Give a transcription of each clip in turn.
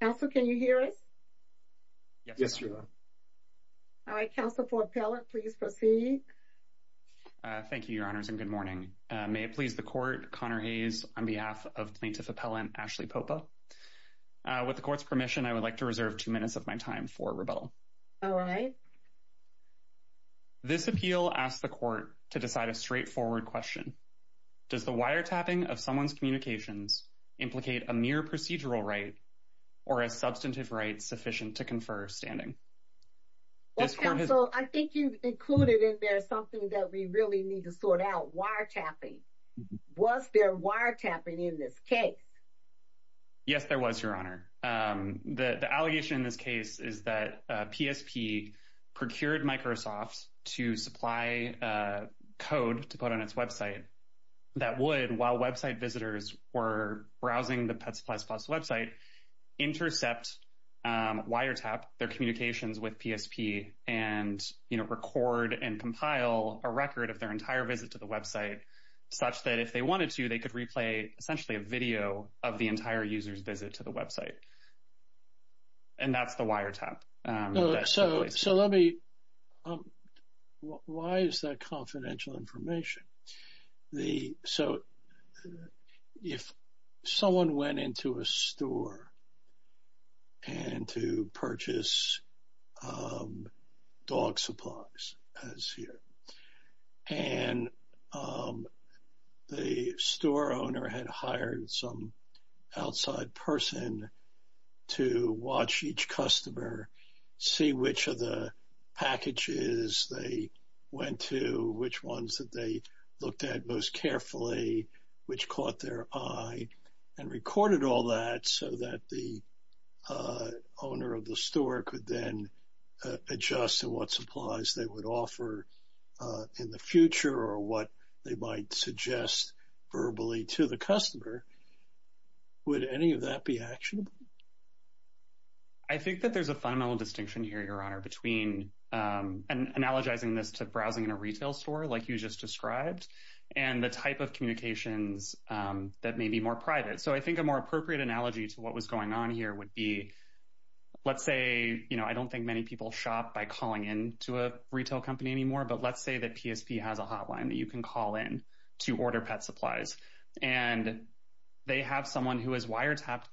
Counsel, can you hear us? Yes, Your Honor. All right, Counsel for Appellant, please proceed. Thank you, Your Honors, and good morning. May it please the Court, Connor Hayes, on behalf of the plaintiff's appellant, Ashley Popa. With the Court's permission, I would like to reserve two minutes of my time for rebuttal. All right. This appeal asks the Court to decide a straightforward question. Does the wiretapping of someone's communications implicate a mere procedural right or a substantive right sufficient to confer standing? Well, Counsel, I think you've included in there something that we really need to sort out, wiretapping. Was there wiretapping in this case? Yes, there was, Your Honor. The allegation in this case is that PSP procured Microsoft to supply code to put on its website that would, while website visitors were browsing the PetSuppliesPlus website, intercept, wiretap their communications with PSP and, you know, record and compile a record of their entire visit to the website such that if they wanted to, they could replay essentially a video of the entire user's visit to the website. And that's the wiretap. So let me, why is that confidential information? So if someone went into a store and to purchase dog supplies, as here, and the store owner had hired some outside person to watch each customer, see which of the packages they went to, which ones that they looked at most carefully, which caught their eye, and recorded all that so that the owner of the store could then adjust to what supplies they would offer in the future or what they might suggest verbally to the customer, would any of that be actionable? I think that there's a fundamental distinction here, Your Honor, between analogizing this to browsing in a retail store like you just described and the type of communications that may be more private. So I think a more appropriate analogy to what was going on here would be, let's say, you know, I don't think many people shop by calling in to a retail company anymore, but let's say that PSP has a hotline that you can call in to order pet supplies. And they have someone who has wiretapped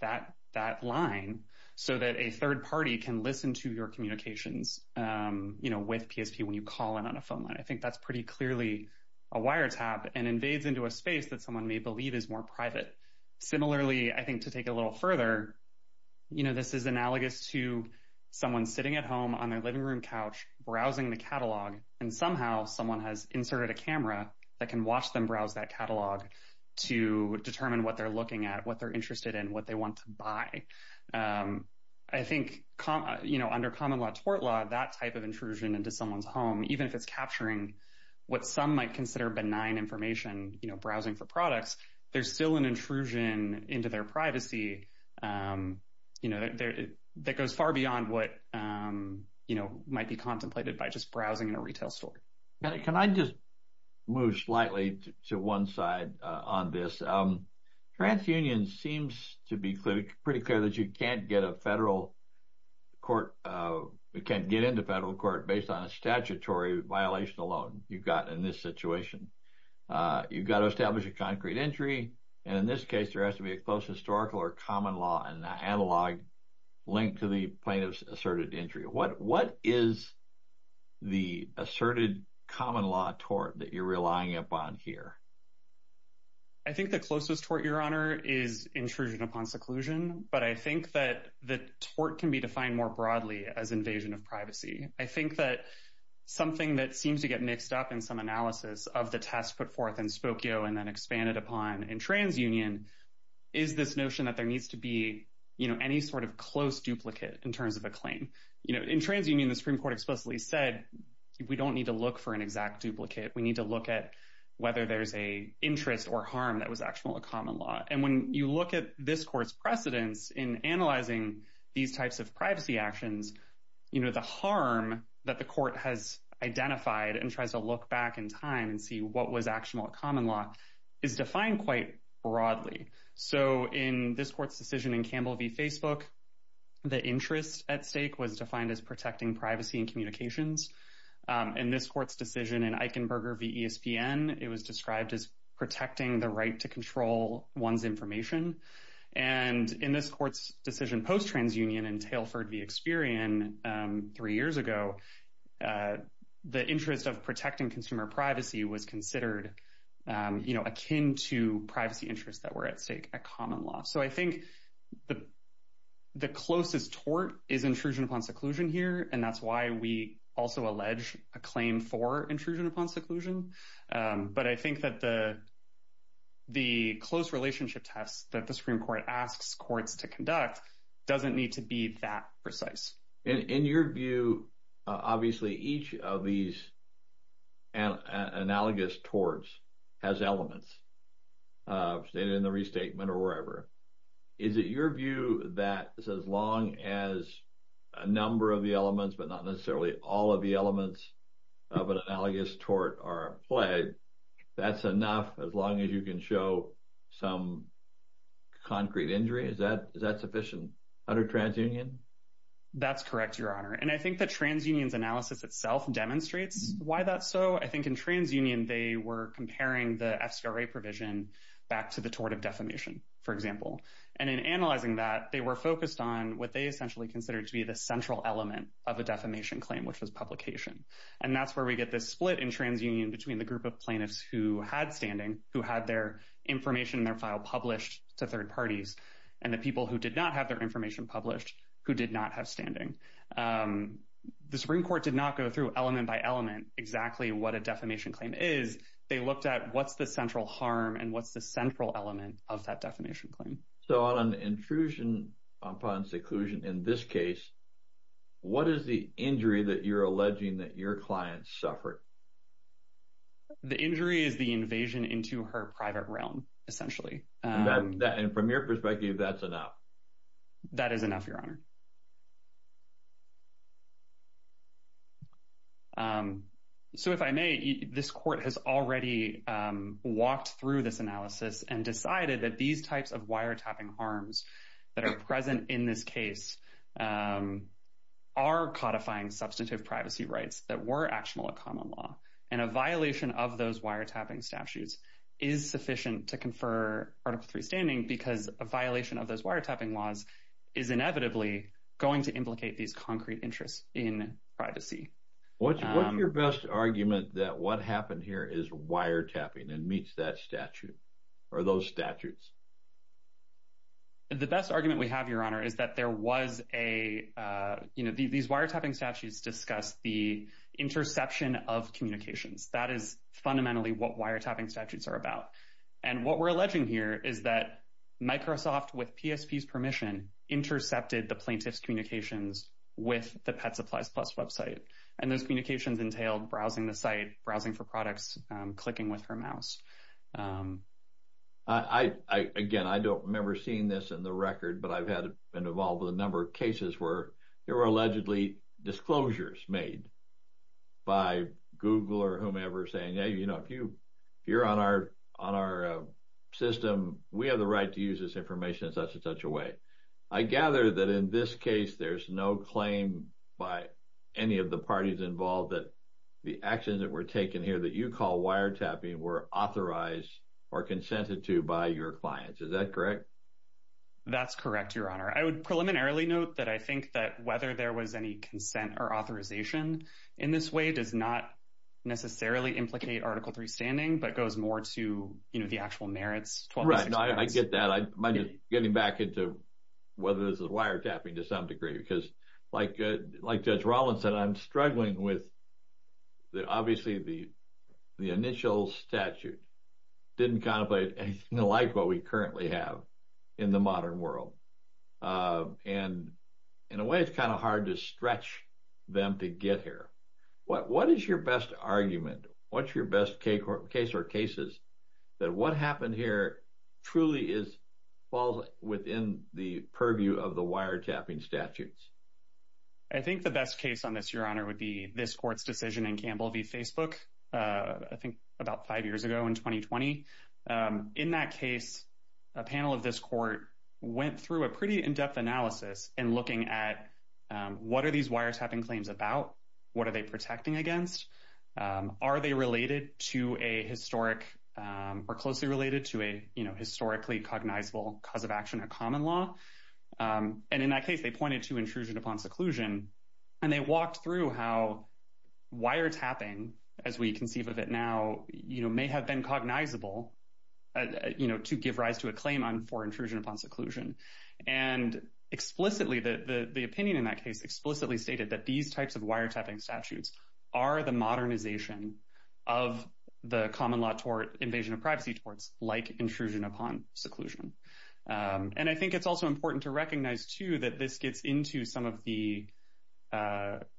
that line so that a third party can listen to your communications, you know, with PSP when you call in on a phone line. I think that's pretty clearly a wiretap and invades into a space that someone may believe is more private. Similarly, I think to take it a little further, you know, this is analogous to someone sitting at home on their living room couch browsing the catalog, and somehow someone has inserted a camera that can watch them browse that catalog to determine what they're looking at, what they're interested in, what they want to buy. I think, you know, under common law tort law, that type of intrusion into someone's home, even if it's capturing what some might consider benign information, you know, browsing for products, there's still an intrusion into their privacy, you know, that goes far beyond what, you know, might be contemplated by just browsing in a retail store. Can I just move slightly to one side on this? TransUnion seems to be pretty clear that you can't get into federal court based on a statutory violation alone you've got in this situation. You've got to establish a concrete injury, and in this case, there has to be a close historical or common law and an analog linked to the plaintiff's asserted injury. What is the asserted common law tort that you're relying upon here? I think the closest tort, Your Honor, is intrusion upon seclusion, but I think that the tort can be defined more broadly as invasion of privacy. I think that something that seems to get mixed up in some analysis of the test put forth in Spokio and then expanded upon in TransUnion is this notion that there needs to be, you know, any sort of close duplicate in terms of a claim. You know, in TransUnion, the Supreme Court explicitly said we don't need to look for an exact duplicate. We need to look at whether there's an interest or harm that was actionable in common law. And when you look at this court's precedence in analyzing these types of privacy actions, you know, the harm that the court has identified and tries to look back in time and see what was actionable in common law is defined quite broadly. So in this court's decision in Campbell v. Facebook, the interest at stake was defined as protecting privacy and communications. In this court's decision in Eichenberger v. ESPN, it was described as protecting the right to control one's information. And in this court's decision post-TransUnion in Telford v. Experian three years ago, the interest of protecting consumer privacy was considered, you know, akin to privacy interests that were at stake at common law. So I think the closest tort is intrusion upon seclusion here, and that's why we also allege a claim for intrusion upon seclusion. But I think that the close relationship test that the Supreme Court asks courts to conduct doesn't need to be that precise. In your view, obviously, each of these analogous torts has elements, stated in the restatement or wherever. Is it your view that as long as a number of the elements, but not necessarily all of the elements of an analogous tort are applied, that's enough as long as you can show some concrete injury? Is that sufficient under TransUnion? That's correct, Your Honor. And I think that TransUnion's analysis itself demonstrates why that's so. I think in TransUnion they were comparing the FCRA provision back to the tort of defamation, for example. And in analyzing that, they were focused on what they essentially considered to be the central element of a defamation claim, which was publication. And that's where we get this split in TransUnion between the group of plaintiffs who had standing, who had their information in their file published to third parties, and the people who did not have their information published, who did not have standing. The Supreme Court did not go through element by element exactly what a defamation claim is. They looked at what's the central harm and what's the central element of that defamation claim. So on intrusion upon seclusion in this case, what is the injury that you're alleging that your client suffered? The injury is the invasion into her private realm, essentially. And from your perspective, that's enough? That is enough, Your Honor. So if I may, this court has already walked through this analysis and decided that these types of wiretapping harms that are present in this case are codifying substantive privacy rights that were actionable at common law. And a violation of those wiretapping statutes is sufficient to confer Article III standing because a violation of those wiretapping laws is inevitably going to implicate these concrete interests in privacy. What's your best argument that what happened here is wiretapping and meets that statute or those statutes? The best argument we have, Your Honor, is that there was a, you know, these wiretapping statutes discuss the interception of communications. That is fundamentally what wiretapping statutes are about. And what we're alleging here is that Microsoft, with PSP's permission, intercepted the plaintiff's communications with the PetSuppliesPlus website. And those communications entailed browsing the site, browsing for products, clicking with her mouse. Again, I don't remember seeing this in the record, but I've been involved with a number of cases where there were allegedly disclosures made by Google or whomever saying, you know, if you're on our system, we have the right to use this information in such and such a way. I gather that in this case, there's no claim by any of the parties involved that the actions that were taken here that you call wiretapping were authorized or consented to by your clients. Is that correct? That's correct, Your Honor. I would preliminarily note that I think that whether there was any consent or authorization in this way does not necessarily implicate Article 3 standing, but goes more to, you know, the actual merits. Right, I get that. I'm getting back into whether this is wiretapping to some degree. Because like Judge Rollins said, I'm struggling with, obviously, the initial statute didn't contemplate anything like what we currently have in the modern world. And in a way, it's kind of hard to stretch them to get here. What is your best argument? What's your best case or cases that what happened here truly falls within the purview of the wiretapping statutes? I think the best case on this, Your Honor, would be this court's decision in Campbell v. Facebook, I think about five years ago in 2020. In that case, a panel of this court went through a pretty in-depth analysis in looking at what are these wiretapping claims about? What are they protecting against? Are they related to a historic or closely related to a, you know, historically cognizable cause of action or common law? And in that case, they pointed to intrusion upon seclusion. And they walked through how wiretapping, as we conceive of it now, you know, may have been cognizable, you know, to give rise to a claim for intrusion upon seclusion. And explicitly, the opinion in that case explicitly stated that these types of wiretapping statutes are the modernization of the common law tort, invasion of privacy torts, like intrusion upon seclusion. And I think it's also important to recognize, too, that this gets into some of the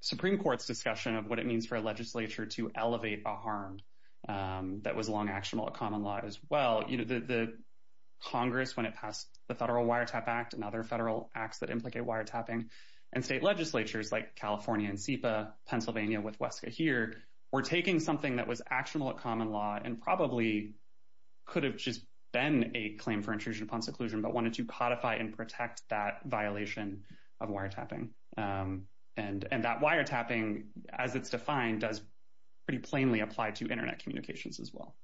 Supreme Court's discussion of what it means for a legislature to elevate a harm that was long actionable at common law as well. You know, the Congress, when it passed the Federal Wiretap Act and other federal acts that implicate wiretapping, and state legislatures like California and SEPA, Pennsylvania with Wesca here, were taking something that was actionable at common law and probably could have just been a claim for intrusion upon seclusion, but wanted to codify and protect that violation of wiretapping. And that wiretapping, as it's defined, does pretty plainly apply to Internet communications as well.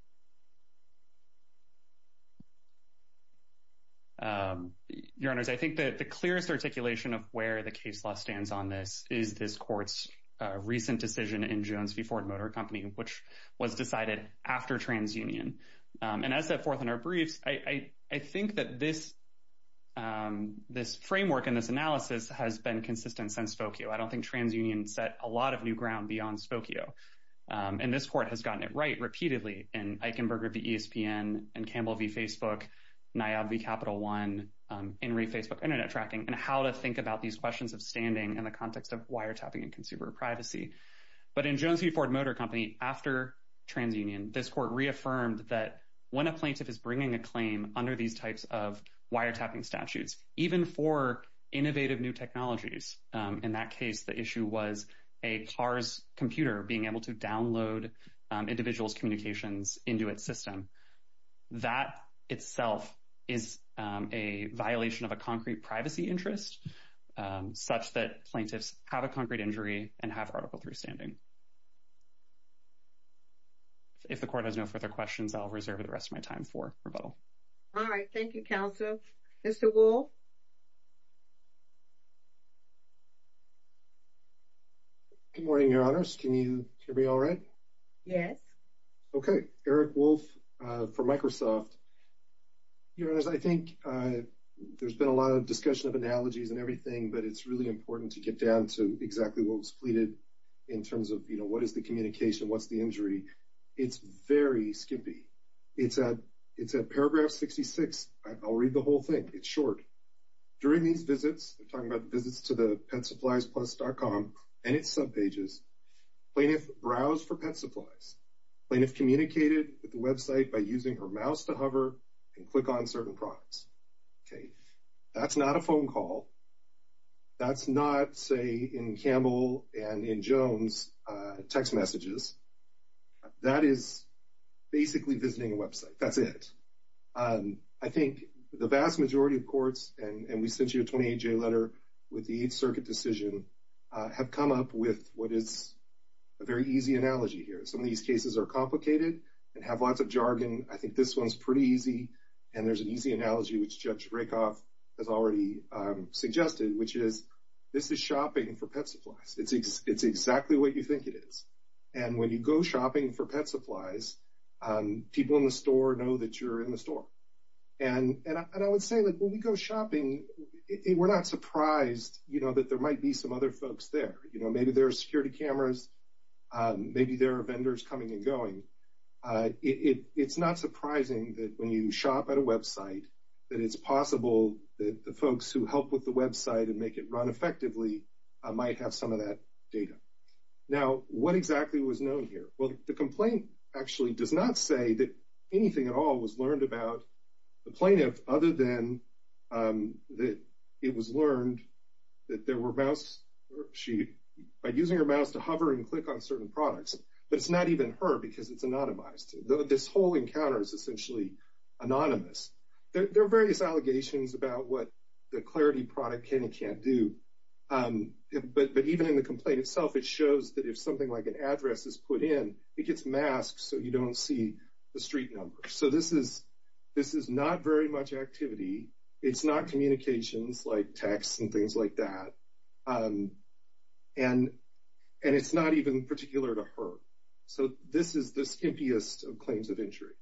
Your Honors, I think that the clearest articulation of where the case law stands on this is this court's recent decision in Jones v. Ford Motor Company, which was decided after TransUnion. And as set forth in our briefs, I think that this framework and this analysis has been consistent since Spokio. I don't think TransUnion set a lot of new ground beyond Spokio. And this court has gotten it right repeatedly in Eichenberger v. ESPN, in Campbell v. Facebook, Niab v. Capital One, in re-Facebook Internet tracking, and how to think about these questions of standing in the context of wiretapping and consumer privacy. But in Jones v. Ford Motor Company, after TransUnion, this court reaffirmed that when a plaintiff is bringing a claim under these types of wiretapping statutes, even for innovative new technologies, in that case, the issue was a car's computer being able to download individuals' communications into its system. That itself is a violation of a concrete privacy interest, such that plaintiffs have a concrete injury and have article 3 standing. If the court has no further questions, I'll reserve the rest of my time for rebuttal. All right. Thank you, counsel. Mr. Wolfe? Good morning, Your Honors. Can you hear me all right? Yes. Okay. Eric Wolfe for Microsoft. Your Honors, I think there's been a lot of discussion of analogies and everything, but it's really important to get down to exactly what was pleaded in terms of, you know, what is the communication, what's the injury. It's very skimpy. It's at paragraph 66. I'll read the whole thing. It's short. During these visits, we're talking about visits to the PetSuppliesPlus.com and its subpages, plaintiff browsed for pet supplies. Plaintiff communicated with the website by using her mouse to hover and click on certain products. That's not a phone call. That's not, say, in Campbell and in Jones text messages. That is basically visiting a website. That's it. I think the vast majority of courts, and we sent you a 28-J letter with the Eighth Circuit decision, have come up with what is a very easy analogy here. Some of these cases are complicated and have lots of jargon. I think this one's pretty easy, and there's an easy analogy, which Judge Rakoff has already suggested, which is this is shopping for pet supplies. It's exactly what you think it is. And when you go shopping for pet supplies, people in the store know that you're in the store. And I would say, like, when we go shopping, we're not surprised, you know, that there might be some other folks there. You know, maybe there are security cameras. Maybe there are vendors coming and going. It's not surprising that when you shop at a website that it's possible that the folks who help with the website and make it run effectively might have some of that data. Now, what exactly was known here? Well, the complaint actually does not say that anything at all was learned about the plaintiff other than that it was learned that there were mouse – by using her mouse to hover and click on certain products. But it's not even her because it's anonymized. This whole encounter is essentially anonymous. There are various allegations about what the Clarity product can and can't do. But even in the complaint itself, it shows that if something like an address is put in, it gets masked so you don't see the street numbers. So this is not very much activity. It's not communications like texts and things like that. And it's not even particular to her. So this is the skimpiest of claims of injury.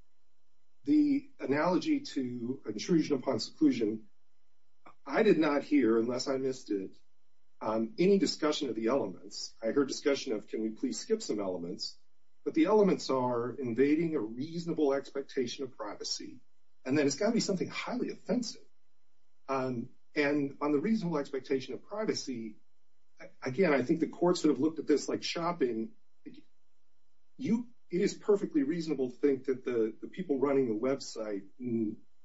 The analogy to intrusion upon seclusion, I did not hear, unless I missed it, any discussion of the elements. I heard discussion of, can we please skip some elements? But the elements are invading a reasonable expectation of privacy. And then it's got to be something highly offensive. And on the reasonable expectation of privacy, again, I think the courts have looked at this like shopping. It is perfectly reasonable to think that the people running the website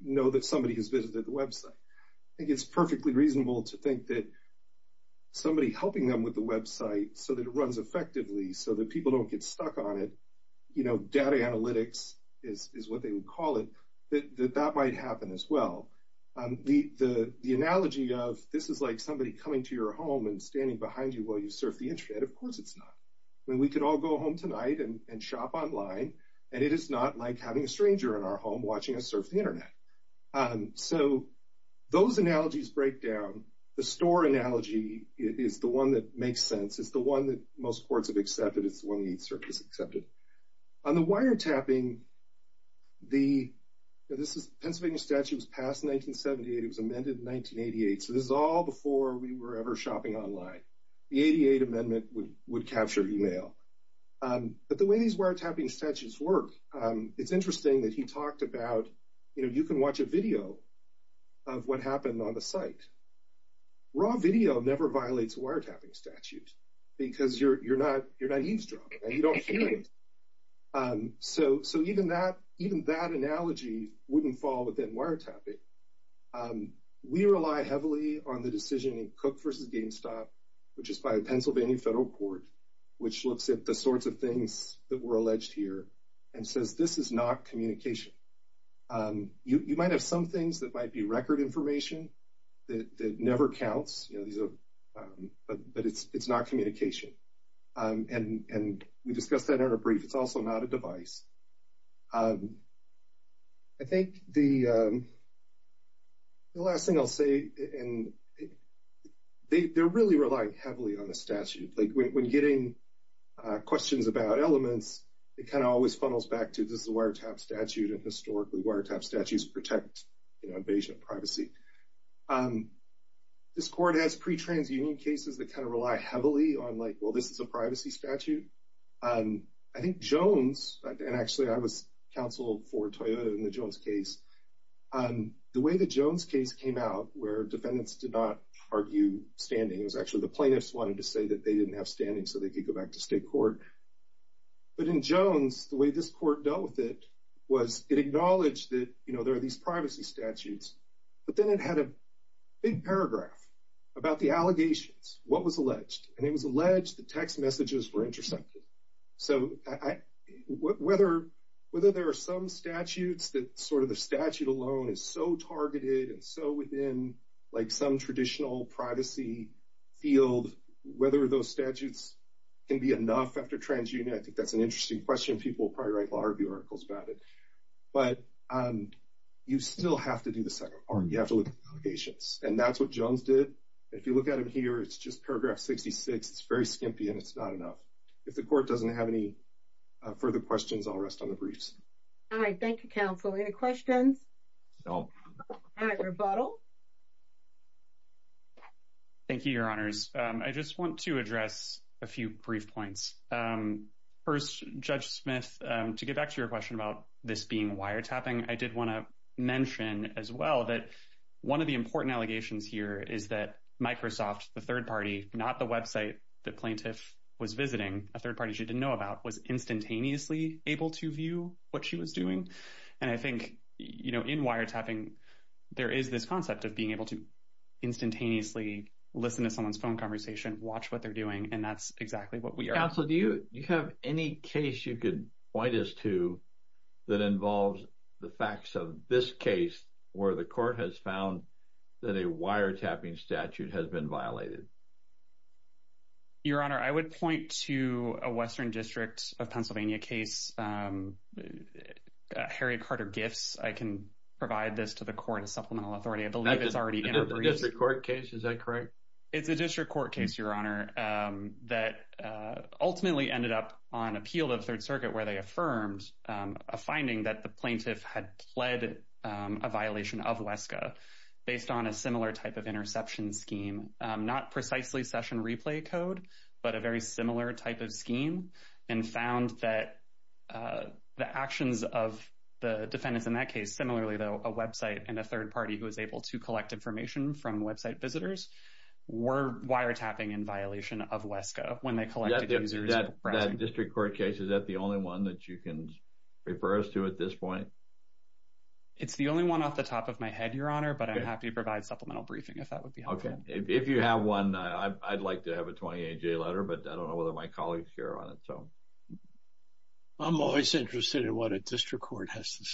know that somebody has visited the website. I think it's perfectly reasonable to think that somebody helping them with the website so that it runs effectively, so that people don't get stuck on it, you know, data analytics is what they would call it, that that might happen as well. The analogy of this is like somebody coming to your home and standing behind you while you surf the Internet. Of course it's not. I mean, we could all go home tonight and shop online, and it is not like having a stranger in our home watching us surf the Internet. So those analogies break down. The store analogy is the one that makes sense. It's the one that most courts have accepted. It's the one that needs to be accepted. On the wiretapping, the Pennsylvania statute was passed in 1978. It was amended in 1988. So this is all before we were ever shopping online. The 88 Amendment would capture email. But the way these wiretapping statutes work, it's interesting that he talked about, you know, you can watch a video of what happened on the site. Raw video never violates a wiretapping statute because you're not eavesdropping. You don't hear it. So even that analogy wouldn't fall within wiretapping. We rely heavily on the decision in Cook v. GameStop, which is by a Pennsylvania federal court, which looks at the sorts of things that were alleged here and says this is not communication. You might have some things that might be record information that never counts, but it's not communication. And we discussed that in a brief. It's also not a device. I think the last thing I'll say, and they're really relying heavily on the statute. When getting questions about elements, it kind of always funnels back to this is a wiretapped statute, and historically wiretapped statutes protect invasion of privacy. This court has pre-transunion cases that kind of rely heavily on like, well, this is a privacy statute. I think Jones, and actually I was counsel for Toyota in the Jones case, the way the Jones case came out where defendants did not argue standing, it was actually the plaintiffs wanted to say that they didn't have standing so they could go back to state court. But in Jones, the way this court dealt with it was it acknowledged that, you know, there are these privacy statutes. But then it had a big paragraph about the allegations, what was alleged. And it was alleged that text messages were intercepted. So whether there are some statutes that sort of the statute alone is so targeted and so within like some traditional privacy field, whether those statutes can be enough after transunion, I think that's an interesting question. People will probably write law review articles about it. But you still have to do the second part. You have to look at the allegations. And that's what Jones did. If you look at it here, it's just paragraph 66. It's very skimpy, and it's not enough. If the court doesn't have any further questions, I'll rest on the briefs. All right. Thank you, counsel. Any questions? No. All right. Rebuttal. Thank you, Your Honors. I just want to address a few brief points. First, Judge Smith, to get back to your question about this being wiretapping, I did want to mention as well that one of the important allegations here is that Microsoft, the third party, not the website the plaintiff was visiting, a third party she didn't know about, was instantaneously able to view what she was doing. And I think, you know, in wiretapping, there is this concept of being able to instantaneously listen to someone's phone conversation, watch what they're doing, and that's exactly what we are. Counsel, do you have any case you could point us to that involves the facts of this case where the court has found that a wiretapping statute has been violated? Your Honor, I would point to a Western District of Pennsylvania case, Harry Carter Gifts. I can provide this to the court as supplemental authority. I believe it's already in our briefs. A district court case, is that correct? It's a district court case, Your Honor, that ultimately ended up on appeal of Third Circuit where they affirmed a finding that the plaintiff had pled a violation of WESCA based on a similar type of interception scheme, not precisely session replay code, but a very similar type of scheme and found that the actions of the defendants in that case, similarly, though, a website and a third party who was able to collect information from website visitors were wiretapping in violation of WESCA when they collected users. That district court case, is that the only one that you can refer us to at this point? It's the only one off the top of my head, Your Honor, but I'm happy to provide supplemental briefing if that would be helpful. If you have one, I'd like to have a 28-J letter, but I don't know whether my colleagues care on it. I'm always interested in what a district court has to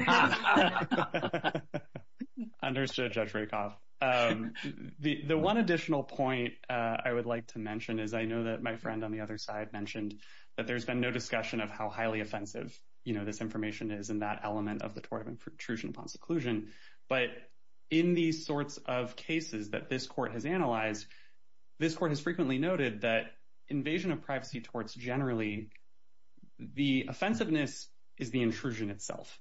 say. Understood, Judge Rakoff. The one additional point I would like to mention is I know that my friend on the other side mentioned that there's been no discussion of how highly offensive this information is in that element of the tort of intrusion upon seclusion, but in these sorts of cases that this court has analyzed, this court has frequently noted that invasion of privacy torts generally, the offensiveness is the intrusion itself.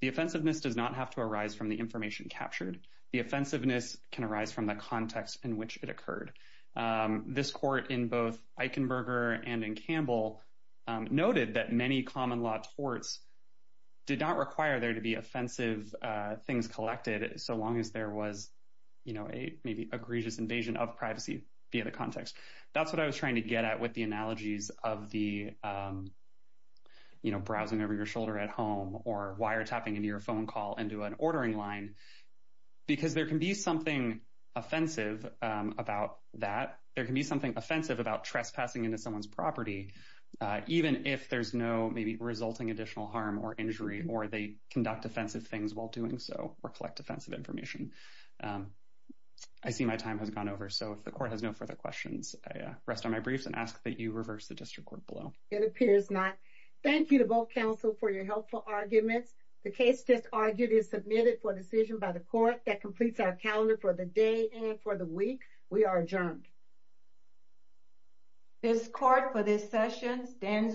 The offensiveness does not have to arise from the information captured. The offensiveness can arise from the context in which it occurred. This court in both Eichenberger and in Campbell noted that many common law torts did not require there to be offensive things collected so long as there was, you know, a maybe egregious invasion of privacy via the context. That's what I was trying to get at with the analogies of the, you know, browsing over your shoulder at home or wiretapping into your phone call into an ordering line, because there can be something offensive about that. There can be something offensive about trespassing into someone's property, even if there's no maybe resulting additional harm or injury or they conduct offensive things while doing so or collect offensive information. I see my time has gone over. So if the court has no further questions, I rest on my briefs and ask that you reverse the district court below. It appears not. Thank you to both counsel for your helpful arguments. The case just argued is submitted for decision by the court that completes our calendar for the day and for the week. We are adjourned. This court for this session stands adjourned.